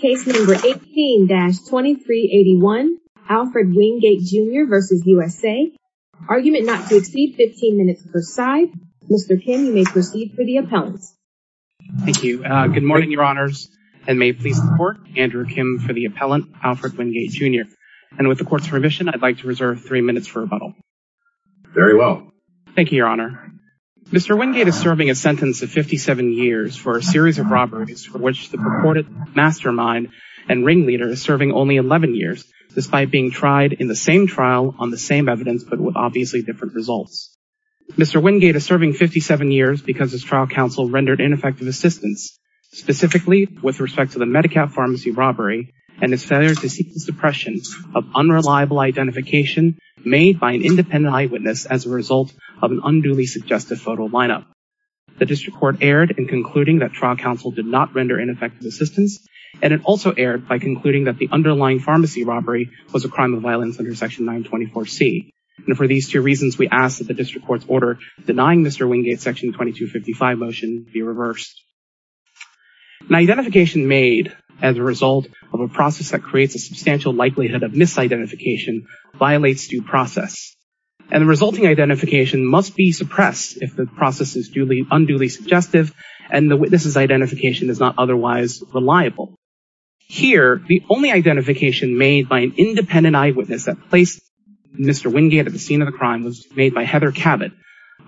Case number 18-2381 Alfred Wingate Jr v. USA Argument not to exceed 15 minutes per side. Mr. Kim, you may proceed for the appellant. Thank you. Good morning, your honors, and may it please the court, Andrew Kim for the appellant, Alfred Wingate Jr. And with the court's permission, I'd like to reserve three minutes for rebuttal. Very well. Thank you, your honor. Mr. Wingate is serving a sentence of 57 years for a series of robberies for which the purported mastermind and ringleader is serving only 11 years despite being tried in the same trial on the same evidence but with obviously different results. Mr. Wingate is serving 57 years because his trial counsel rendered ineffective assistance, specifically with respect to the MediCap pharmacy robbery and his failure to seek the suppression of unreliable identification made by an independent eyewitness as a result of an ineffective assistance. And it also erred by concluding that the underlying pharmacy robbery was a crime of violence under Section 924C. And for these two reasons, we ask that the district court's order denying Mr. Wingate's Section 2255 motion be reversed. An identification made as a result of a process that creates a substantial likelihood of misidentification violates due process. And the resulting identification must be suppressed if the identification is not otherwise reliable. Here, the only identification made by an independent eyewitness that placed Mr. Wingate at the scene of the crime was made by Heather Cabot,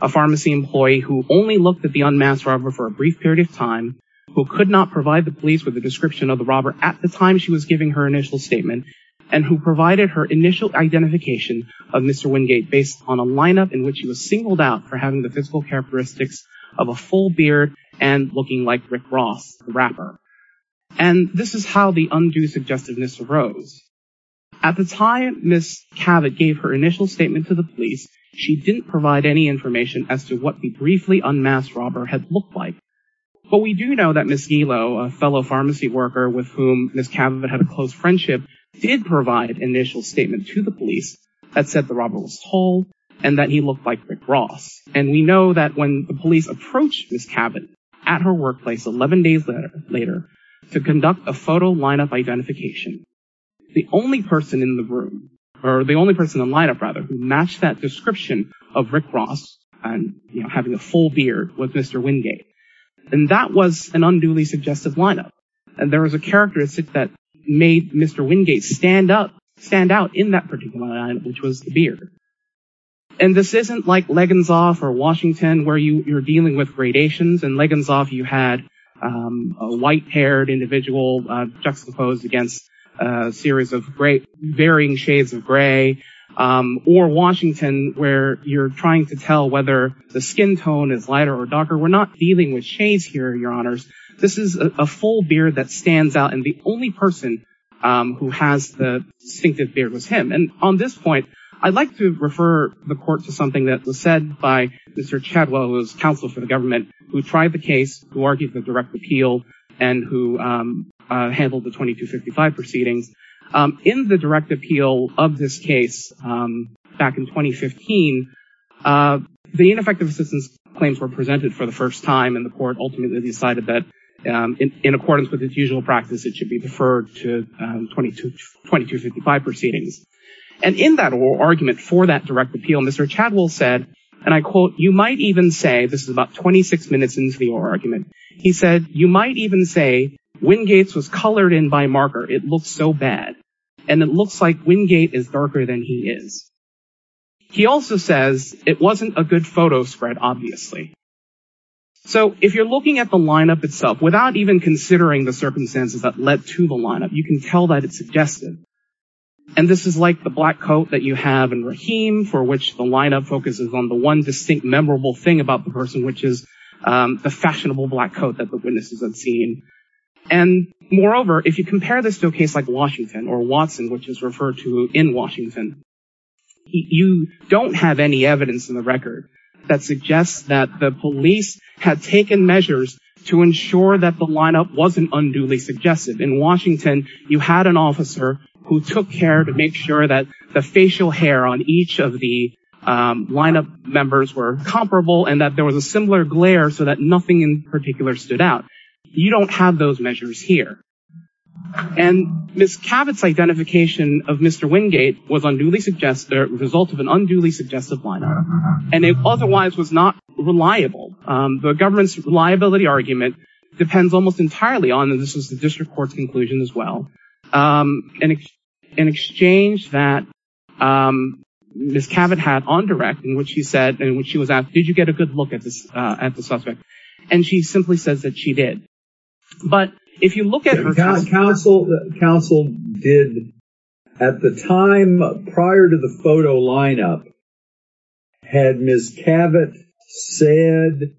a pharmacy employee who only looked at the unmasked robber for a brief period of time, who could not provide the police with a description of the robber at the time she was giving her initial statement, and who provided her initial identification of Mr. Wingate based on a lineup in which he was singled out for having the physical characteristics of a full beard and looking like Rick Ross, the rapper. And this is how the undue suggestiveness arose. At the time Ms. Cabot gave her initial statement to the police, she didn't provide any information as to what the briefly unmasked robber had looked like. But we do know that Ms. Gelo, a fellow pharmacy worker with whom Ms. Cabot had a close friendship, did provide an initial statement to the police that said the robber was tall and that he looked like Rick Ross. And we know that when the police approached Ms. Cabot at her workplace 11 days later to conduct a photo lineup identification, the only person in the room, or the only person in the lineup rather, who matched that description of Rick Ross and having a full beard was Mr. Wingate. And that was an unduly suggestive lineup. And there was a characteristic that made Mr. Wingate stand up, in that particular lineup, which was the beard. And this isn't like Legginsoff or Washington, where you're dealing with gradations. In Legginsoff, you had a white-haired individual juxtaposed against a series of varying shades of gray. Or Washington, where you're trying to tell whether the skin tone is lighter or darker. We're not dealing with shades here, your honors. This is a full beard that stands out. And the only person who has the distinctive beard was him. And on this point, I'd like to refer the court to something that was said by Mr. Chadwell, who was counsel for the government, who tried the case, who argued the direct appeal, and who handled the 2255 proceedings. In the direct appeal of this case, back in 2015, the ineffective assistance claims were presented for the first time, and the court ultimately decided that in accordance with its usual practice, it should be deferred to 2255 proceedings. And in that oral argument for that direct appeal, Mr. Chadwell said, and I quote, you might even say, this is about 26 minutes into the oral argument, he said, you might even say Wingate's was colored in by marker. It looks so bad. And it looks like Wingate is darker than he is. He also says, it wasn't a good photo spread, obviously. So if you're looking at the lineup itself, without even considering the circumstances that led to the lineup, you can tell that it's suggestive. And this is like the black coat that you have in Rahim, for which the lineup focuses on the one distinct memorable thing about the person, which is the fashionable black coat that the witnesses have seen. And moreover, if you compare this to a case like Washington or Watson, which is referred to in Washington, you don't have any record that suggests that the police had taken measures to ensure that the lineup wasn't unduly suggestive. In Washington, you had an officer who took care to make sure that the facial hair on each of the lineup members were comparable and that there was a similar glare so that nothing in particular stood out. You don't have those measures here. And Ms. Cabot's identification of Mr. Wingate was unduly suggestive, the result of an unduly suggestive lineup. And it otherwise was not reliable. The government's reliability argument depends almost entirely on, and this was the district court's conclusion as well, an exchange that Ms. Cabot had on direct, in which she said, and when she was asked, did you get a good look at this, at the suspect? And she simply says that she did. But if you look at her- Counsel did, at the time prior to the photo lineup, had Ms. Cabot said,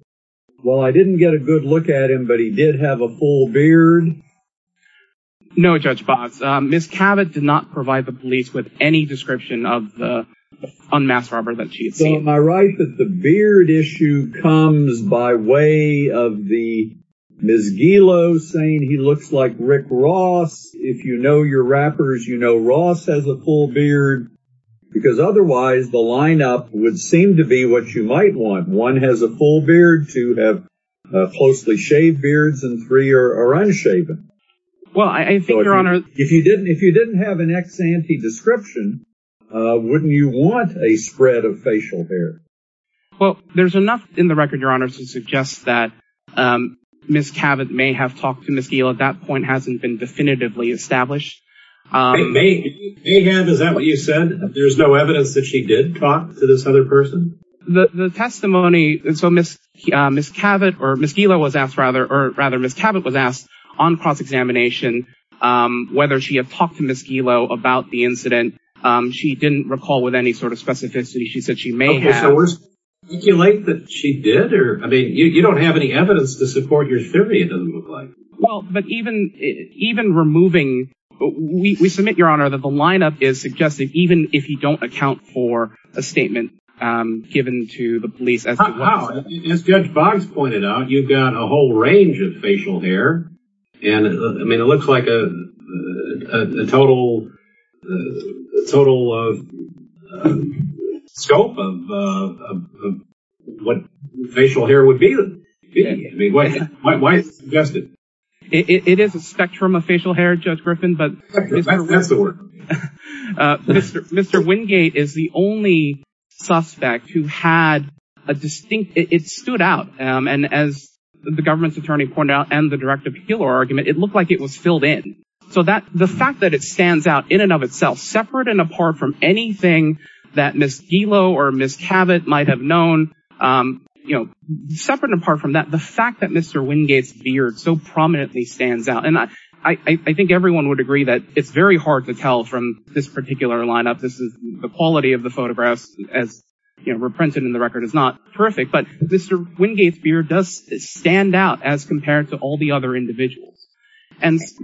well, I didn't get a good look at him, but he did have a full beard? No, Judge Botts. Ms. Cabot did not provide the police with any description of the suspect. Am I right that the beard issue comes by way of the Ms. Gelo saying he looks like Rick Ross? If you know your rappers, you know Ross has a full beard, because otherwise the lineup would seem to be what you might want. One has a full beard, two have closely shaved beards, and three are unshaven. If you didn't have an ex-ante description, wouldn't you want a spread of facial hair? Well, there's enough in the record, Your Honor, to suggest that Ms. Cabot may have talked to Ms. Gelo. That point hasn't been definitively established. Mayhem, is that what you said? There's no evidence that she did talk to this other person? The testimony, so Ms. Cabot, or Ms. Gelo was asked rather, or rather Ms. Cabot was asked, she didn't recall with any sort of specificity she said she may have. Okay, so we're speculating that she did, or, I mean, you don't have any evidence to support your theory, it doesn't look like. Well, but even removing, we submit, Your Honor, that the lineup is suggesting, even if you don't account for a statement given to the police. As Judge Botts pointed out, you've got a whole range of facial hair, and, I mean, it looks like a total scope of what facial hair would be. Why is it suggested? It is a spectrum of facial hair, Judge Griffin, but- That's the word. Mr. Wingate is the only suspect who had a distinct, it stood out, and as the government's direct appeal argument, it looked like it was filled in. So the fact that it stands out in and of itself, separate and apart from anything that Ms. Gelo or Ms. Cabot might have known, separate and apart from that, the fact that Mr. Wingate's beard so prominently stands out, and I think everyone would agree that it's very hard to tell from this particular lineup, this is the quality of the photographs as reprinted in the record is not terrific, but Mr. Wingate's beard does stand out as compared to all the other individuals.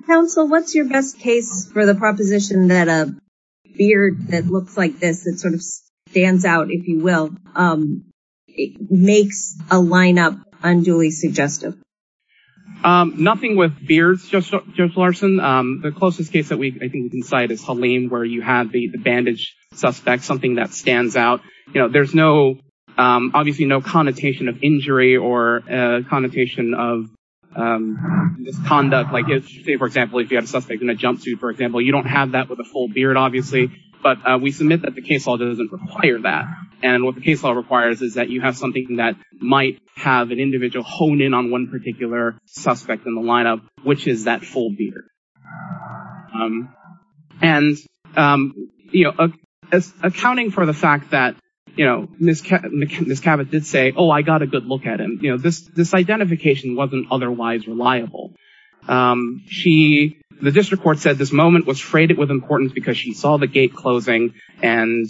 Counsel, what's your best case for the proposition that a beard that looks like this, that sort of stands out, if you will, makes a lineup unduly suggestive? Nothing with beards, Judge Larson. The closest case that I think we can cite is Halim, where you have the bandage suspect, something that stands out. There's no, obviously, no connotation of injury or connotation of misconduct. Say, for example, if you have a suspect in a jumpsuit, for example, you don't have that with a full beard, obviously, but we submit that the case law doesn't require that. And what the case law requires is that you have something that might have an individual hone in on one particular suspect in the lineup, which is that full beard. And, you know, accounting for the fact that, you know, Ms. Cabot did say, oh, I got a good look at him, you know, this identification wasn't otherwise reliable. She, the district court said this moment was freighted with importance because she saw the gate closing. And,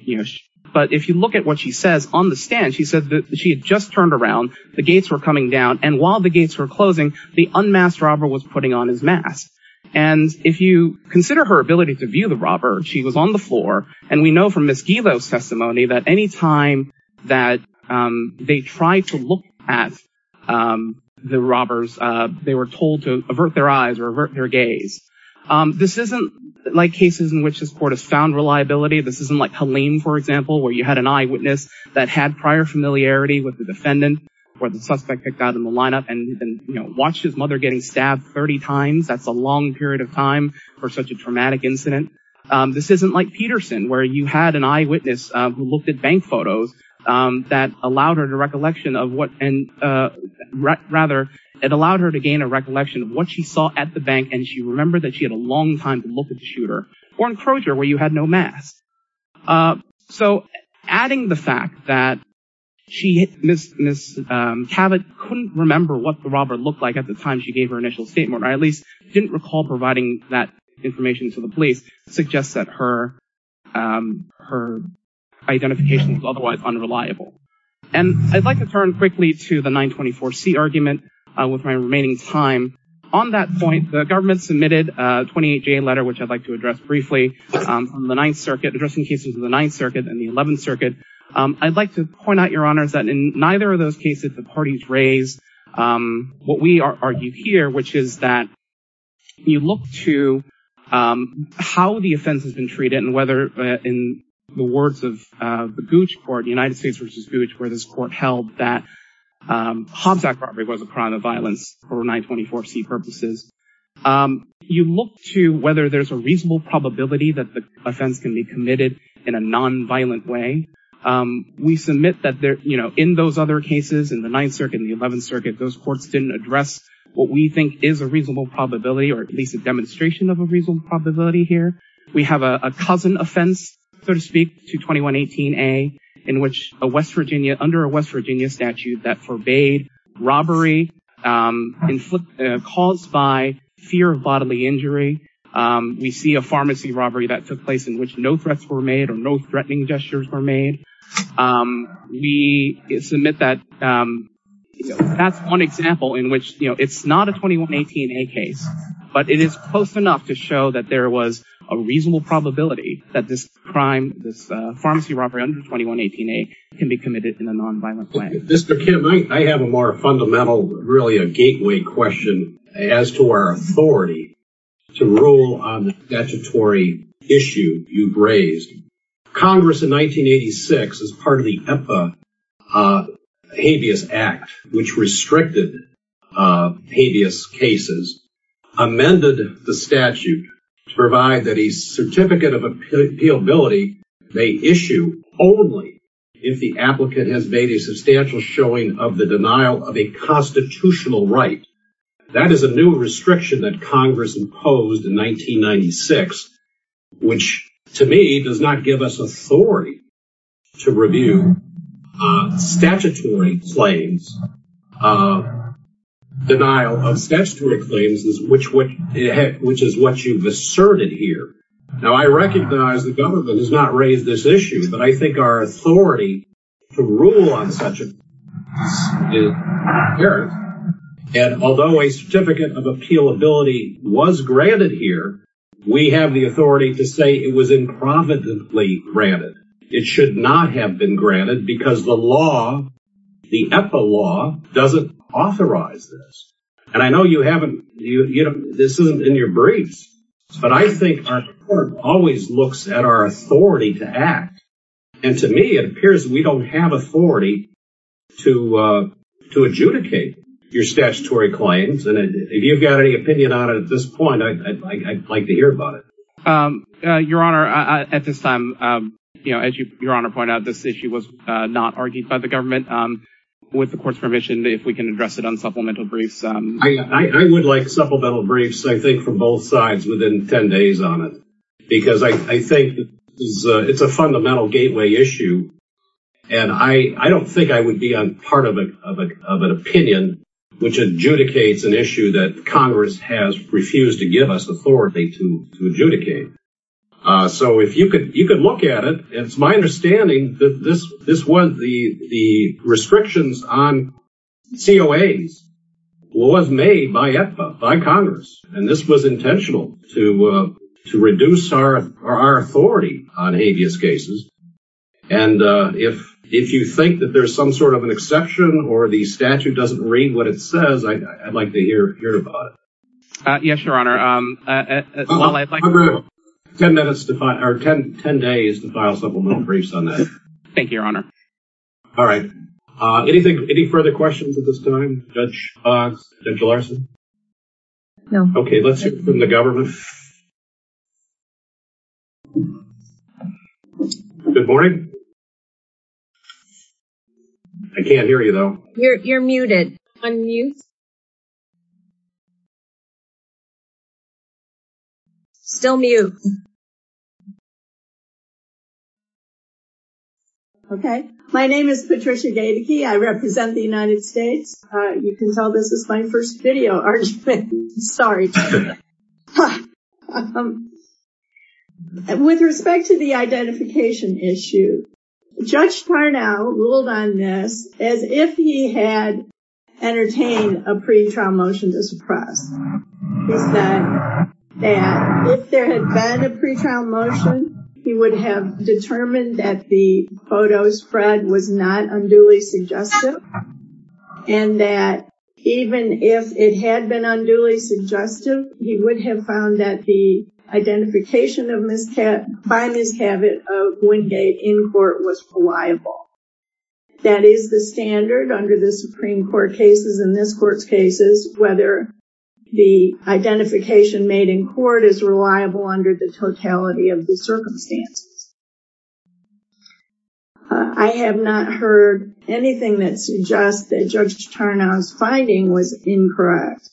you know, but if you look at what she says on the stand, she said that she had turned around, the gates were coming down, and while the gates were closing, the unmasked robber was putting on his mask. And if you consider her ability to view the robber, she was on the floor, and we know from Ms. Gilo's testimony that any time that they tried to look at the robbers, they were told to avert their eyes or avert their gaze. This isn't like cases in which this court has found reliability. This isn't like Halim, for example, where you had an eyewitness that had prior familiarity with the defendant or the suspect picked out in the lineup and, you know, watched his mother getting stabbed 30 times. That's a long period of time for such a traumatic incident. This isn't like Peterson, where you had an eyewitness who looked at bank photos that allowed her to recollection of what, and rather, it allowed her to gain a recollection of what she saw at the bank, and she remembered that she had a long time to look at the shooter. Or in Crozier, where you had no mask. So, adding the fact that she hit Ms. Cabot couldn't remember what the robber looked like at the time she gave her initial statement, or at least didn't recall providing that information to the police, suggests that her identification was otherwise unreliable. And I'd like to turn quickly to the 924C argument with my remaining time. On that point, the from the 9th Circuit, addressing cases in the 9th Circuit and the 11th Circuit, I'd like to point out, Your Honors, that in neither of those cases, the parties raised what we argue here, which is that you look to how the offense has been treated and whether, in the words of the Gouge Court, United States v. Gouge, where this court held that Hobbs Act robbery was a crime of violence for 924C purposes, you look to whether there's reasonable probability that the offense can be committed in a non-violent way. We submit that in those other cases, in the 9th Circuit and the 11th Circuit, those courts didn't address what we think is a reasonable probability, or at least a demonstration of a reasonable probability here. We have a cousin offense, so to speak, to 2118A, in which under a West Virginia statute that forbade robbery caused by fear of bodily injury. We see a pharmacy robbery that took place in which no threats were made or no threatening gestures were made. We submit that that's one example in which, you know, it's not a 2118A case, but it is close enough to show that there was a reasonable probability that this crime, this pharmacy robbery under 2118A, can be committed in a non-violent way. Mr. Kim, I have a more fundamental, really a gateway question as to our authority to rule on the statutory issue you've raised. Congress in 1986, as part of the EPA Habeas Act, which restricted habeas cases, amended the statute to provide that a certificate of has made a substantial showing of the denial of a constitutional right. That is a new restriction that Congress imposed in 1996, which to me does not give us authority to review statutory claims, denial of statutory claims, which is what you've asserted here. Now, I recognize the government has not raised this issue, but I think our authority to rule on such a case is imperative. And although a certificate of appealability was granted here, we have the authority to say it was improvidently granted. It should not have been granted because the law, the EPA law, doesn't authorize this. And I know you haven't, you know, this isn't in your briefs, but I think our court always looks at our authority to act. And to me, it appears we don't have authority to adjudicate your statutory claims. And if you've got any opinion on it at this point, I'd like to hear about it. Your Honor, at this time, you know, as your Honor pointed out, this issue was not argued by the government. With the court's permission, if we can address it on supplemental briefs, I think from both sides within 10 days on it, because I think it's a fundamental gateway issue. And I don't think I would be on part of an opinion which adjudicates an issue that Congress has refused to give us authority to adjudicate. So if you could look at it, it's my understanding that this was the restrictions on COAs was made by Congress. And this was intentional to reduce our authority on habeas cases. And if you think that there's some sort of an exception or the statute doesn't read what it says, I'd like to hear about it. Yes, your Honor. Well, I'd like 10 minutes to find our 1010 days to file supplemental briefs on that. Thank you, your Honor. All right. Anything? Any further questions at this time? Judge? Okay, let's hear from the government. Good morning. I can't hear you, though. You're muted. I'm mute. Still mute. Okay, my name is Patricia Gaedeke. I represent the United States. You can tell this is my first video, aren't you? Sorry. With respect to the identification issue, Judge Parnell ruled on this as if he had entertained a pre-trial motion to suppress. He said that if there had been a pre-trial motion, he would have determined that the photo spread was not unduly suggestive, and that even if it had been unduly suggestive, he would have found that the identification by miscabot of Wingate in court was reliable. That is the standard under the Supreme Court cases and this Court's cases, whether the identification made in court is reliable under the totality of the circumstances. I have not heard anything that suggests that Judge Parnell's finding was incorrect.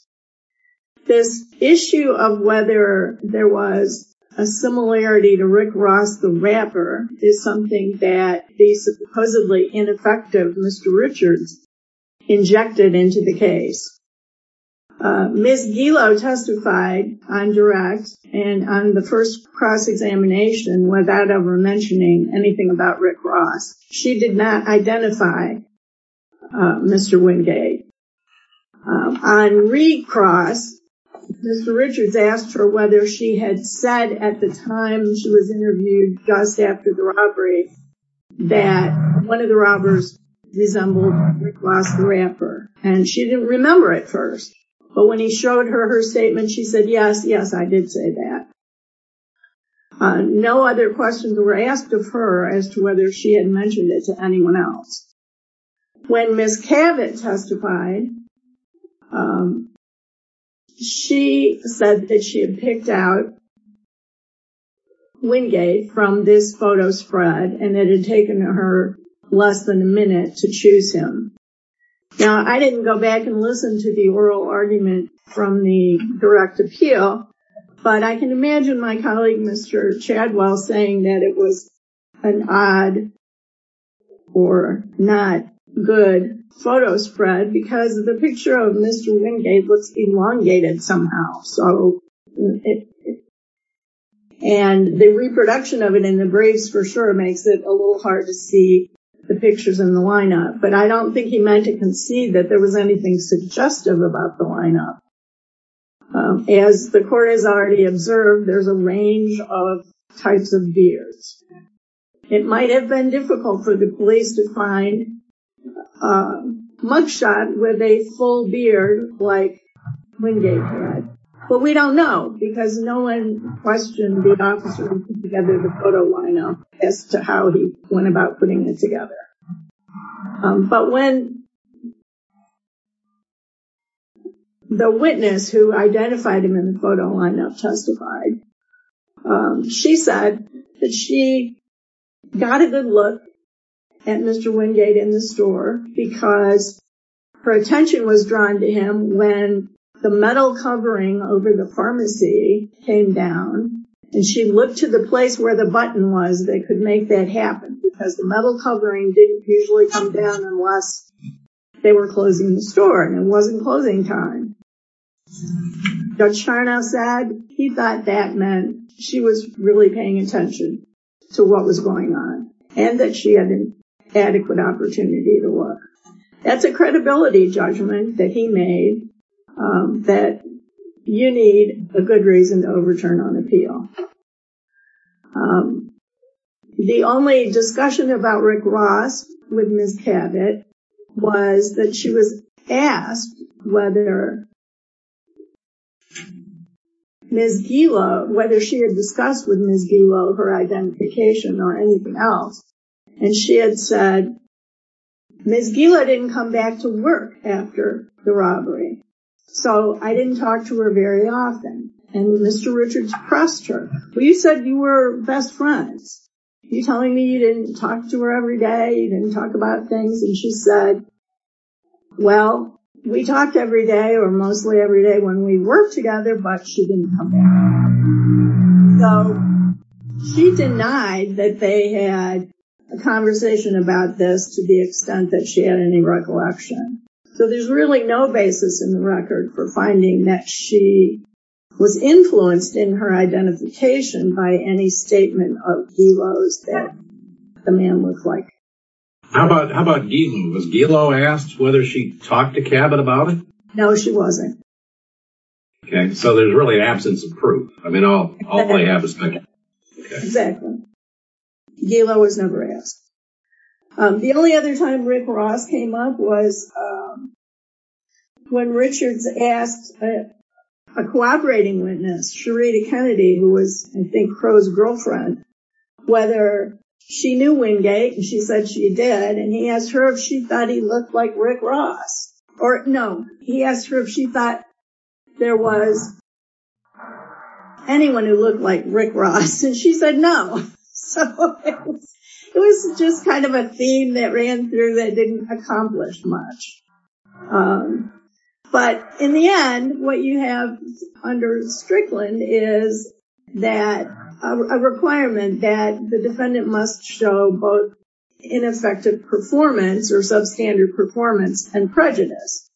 This issue of whether there was a similarity to Rick Ross, the rapper, is something that the supposedly ineffective Mr. Richards injected into the case. Ms. Gilo testified on direct and on the first cross-examination without ever mentioning anything about Rick Ross. She did not identify Mr. Wingate. On recross, Mr. Richards asked her whether she had said at the time she was interviewed, just after the robbery, that one of the robbers resembled Rick Ross, the rapper, and she didn't remember at first, but when he showed her her statement, she said, yes, yes, I did say that. No other questions were asked of her as to whether she had mentioned it to anyone else. When Ms. Cabot testified, she said that she had picked out Wingate from this photo spread and it had taken her less than a minute to choose him. Now, I didn't go back and listen to the oral argument from the direct appeal, but I can or not good photo spread because the picture of Mr. Wingate looks elongated somehow, so and the reproduction of it in the briefs for sure makes it a little hard to see the pictures in the lineup, but I don't think he meant to concede that there was anything suggestive about the lineup. As the court has already observed, there's a range of types of and difficult for the police to find a mugshot with a full beard like Wingate had, but we don't know because no one questioned the officer who put together the photo lineup as to how he went about putting it together, but when the witness who identified him in the photo lineup testified, she said that she got a good look at Mr. Wingate in the store because her attention was drawn to him when the metal covering over the pharmacy came down and she looked to the place where the button was that could make that happen because the metal covering didn't usually come down unless they were closing the store and it wasn't closing time. Judge Charnow said he thought that meant she was really paying attention to what was going on and that she had an adequate opportunity to work. That's a credibility judgment that he made that you need a good reason to overturn on appeal. The only discussion about Rick Ross with Ms. Cabot was that she was asked whether Ms. Gila, whether she had discussed with Ms. Gila her identification or anything else and she had said Ms. Gila didn't come back to work after the robbery, so I didn't talk to her very often and Mr. Richards pressed her. Well, you said you were best friends. Are you telling me you didn't talk to her every day? You didn't talk about things? And she said, well, we talked every day or mostly every day when we worked together, but she didn't come back. So she denied that they had a conversation about this to the extent that she had any recollection. So there's really no basis in the record for finding that she was influenced in her identification by any statement of Gila's that the man looked like. How about Gila? Was Gila asked whether she talked to Cabot about it? No, she wasn't. Okay, so there's really an absence of proof. I mean all I have is my guess. Exactly. Gila was never asked. The only other time Rick Ross came up was when Richards asked a cooperating witness, Sherita Kennedy, who was I think Crow's girlfriend, whether she knew Wingate and she said she did and he asked her if she thought he looked like Rick Ross or no he asked her if she thought there was anyone who looked like Rick Ross and she said no. So it was just kind of a theme that ran through that didn't accomplish much. But in the end what you have under Strickland is that a requirement that the defendant must show both ineffective performance or substandard performance and prejudice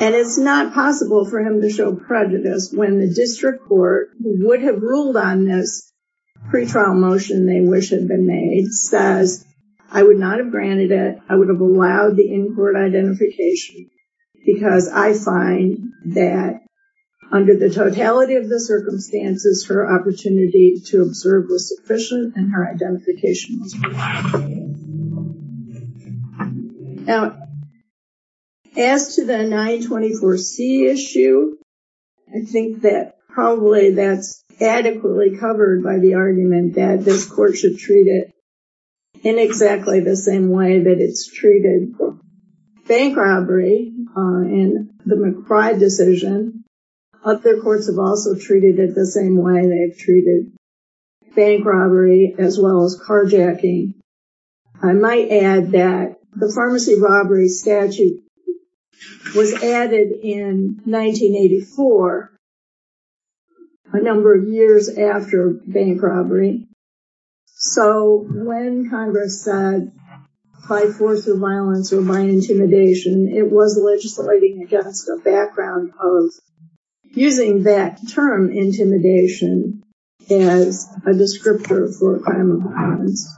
and it's not possible for him to show prejudice when the district court would have ruled on this pretrial motion they wish had been made says I would not have granted it. I would have allowed the in-court identification because I find that under the totality of the circumstances her opportunity to observe was sufficient and her identification was. Now as to the 924c issue I think that probably that's adequately covered by the argument that this court should treat it in exactly the same way that it's treated bank robbery and the McBride decision. Other courts have also treated it the same way they've treated bank robbery as well as carjacking. I might add that the pharmacy robbery statute was added in 1984, a number of years after bank robbery. So when Congress said by force of violence or by intimidation it was legislating against a background of using that term intimidation as a descriptor for a crime of violence.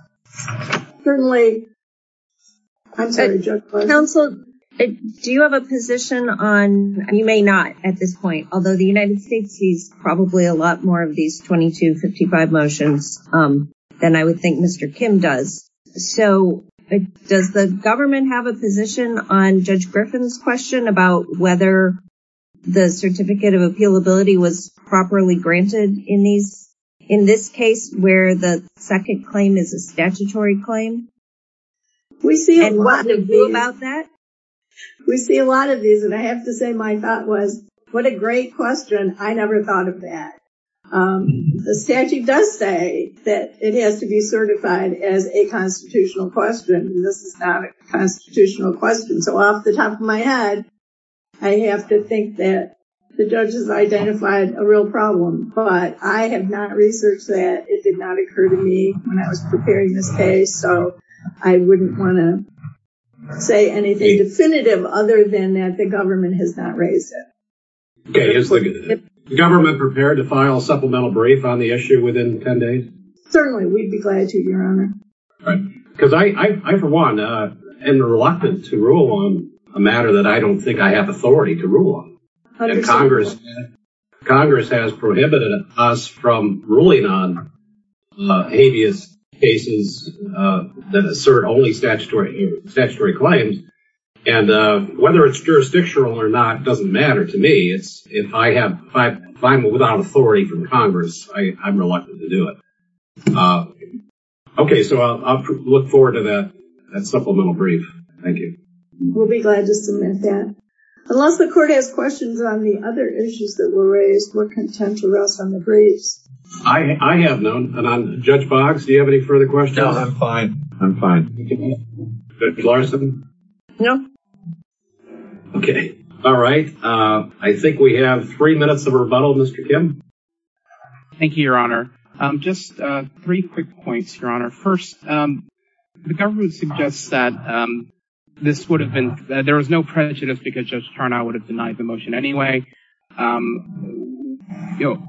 Counsel do you have a position on you may not at this point although the United States sees a lot more of these 2255 motions than I would think Mr. Kim does. So does the government have a position on Judge Griffin's question about whether the certificate of appealability was properly granted in this case where the second claim is a statutory claim? We see a lot of these and I have to say my thought was what a great question. I never thought of that. The statute does say that it has to be certified as a constitutional question. This is not a constitutional question so off the top of my head I have to think that the judges identified a real problem but I have not researched that. It did not occur to me when I was preparing this case so I wouldn't want to say anything definitive other than that the government has not raised it. Is the government prepared to file a supplemental brief on the issue within 10 days? Certainly we'd be glad to your honor. Because I for one am reluctant to rule on a matter that I don't think I have authority to rule on. Congress has prohibited us from ruling on cases that assert only statutory claims and whether it's jurisdictional or not doesn't matter to me. If I'm without authority from Congress I'm reluctant to do it. Okay so I'll look forward to that supplemental brief. Thank you. We'll be glad to submit that. Unless the court has questions on the other issues that were raised we're content to rest on the briefs. I have none and on Judge Boggs do you have any further questions? No I'm fine. I'm fine. Judge Larson? No. Okay all right. I think we have three minutes of rebuttal Mr. Kim. Thank you your honor. Just three quick points your honor. First the government suggests that this would have been there was no prejudice because Judge Tarnow would have denied the motion anyway. You know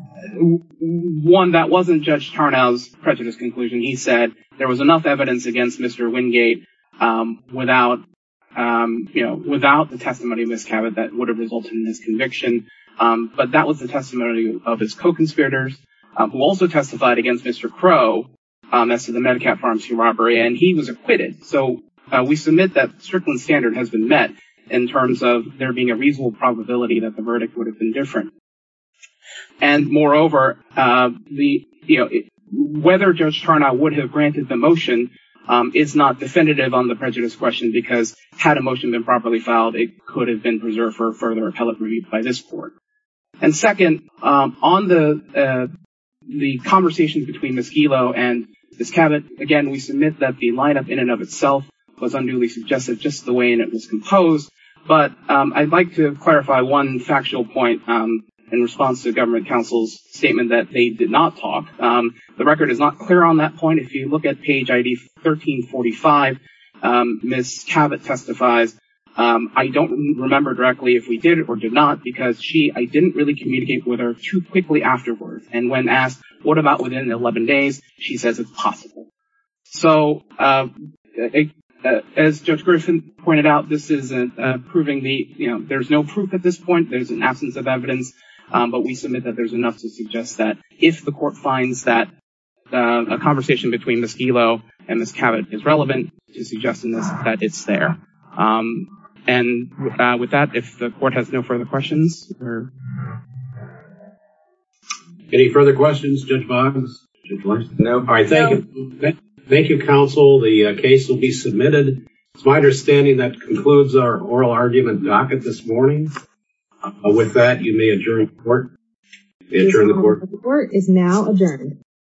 one that wasn't Judge Tarnow's prejudice conclusion he said there was enough evidence against Mr. Wingate without you know without the testimony of Ms. Cabot that would have resulted in his conviction. But that was the testimony of his co-conspirators who also testified against Mr. Crow as to the MediCap Pharmacy robbery and he was acquitted. So we submit that the verdict would have been different. And moreover the you know whether Judge Tarnow would have granted the motion is not definitive on the prejudice question because had a motion been properly filed it could have been preserved for further appellate review by this court. And second on the the conversations between Ms. Gelo and Ms. Cabot again we submit that the lineup in and of itself was unduly suggestive just the way it was composed. But I'd like to clarify one factual point in response to government counsel's statement that they did not talk. The record is not clear on that point if you look at page ID 1345 Ms. Cabot testifies I don't remember directly if we did or did not because she I didn't really communicate with her too quickly afterwards and when asked what about within 11 days she says it's possible. So as Judge Griffin pointed out this isn't proving the you know there's no proof at this point there's an absence of evidence but we submit that there's enough to suggest that if the court finds that a conversation between Ms. Gelo and Ms. Cabot is relevant to suggesting this that it's there. And with that if the court has no further questions or comments. Any further questions Judge Boggs? No. All right thank you. Thank you counsel the case will be submitted. It's my understanding that concludes our oral argument docket this morning. With that you may adjourn the court. The court is now adjourned.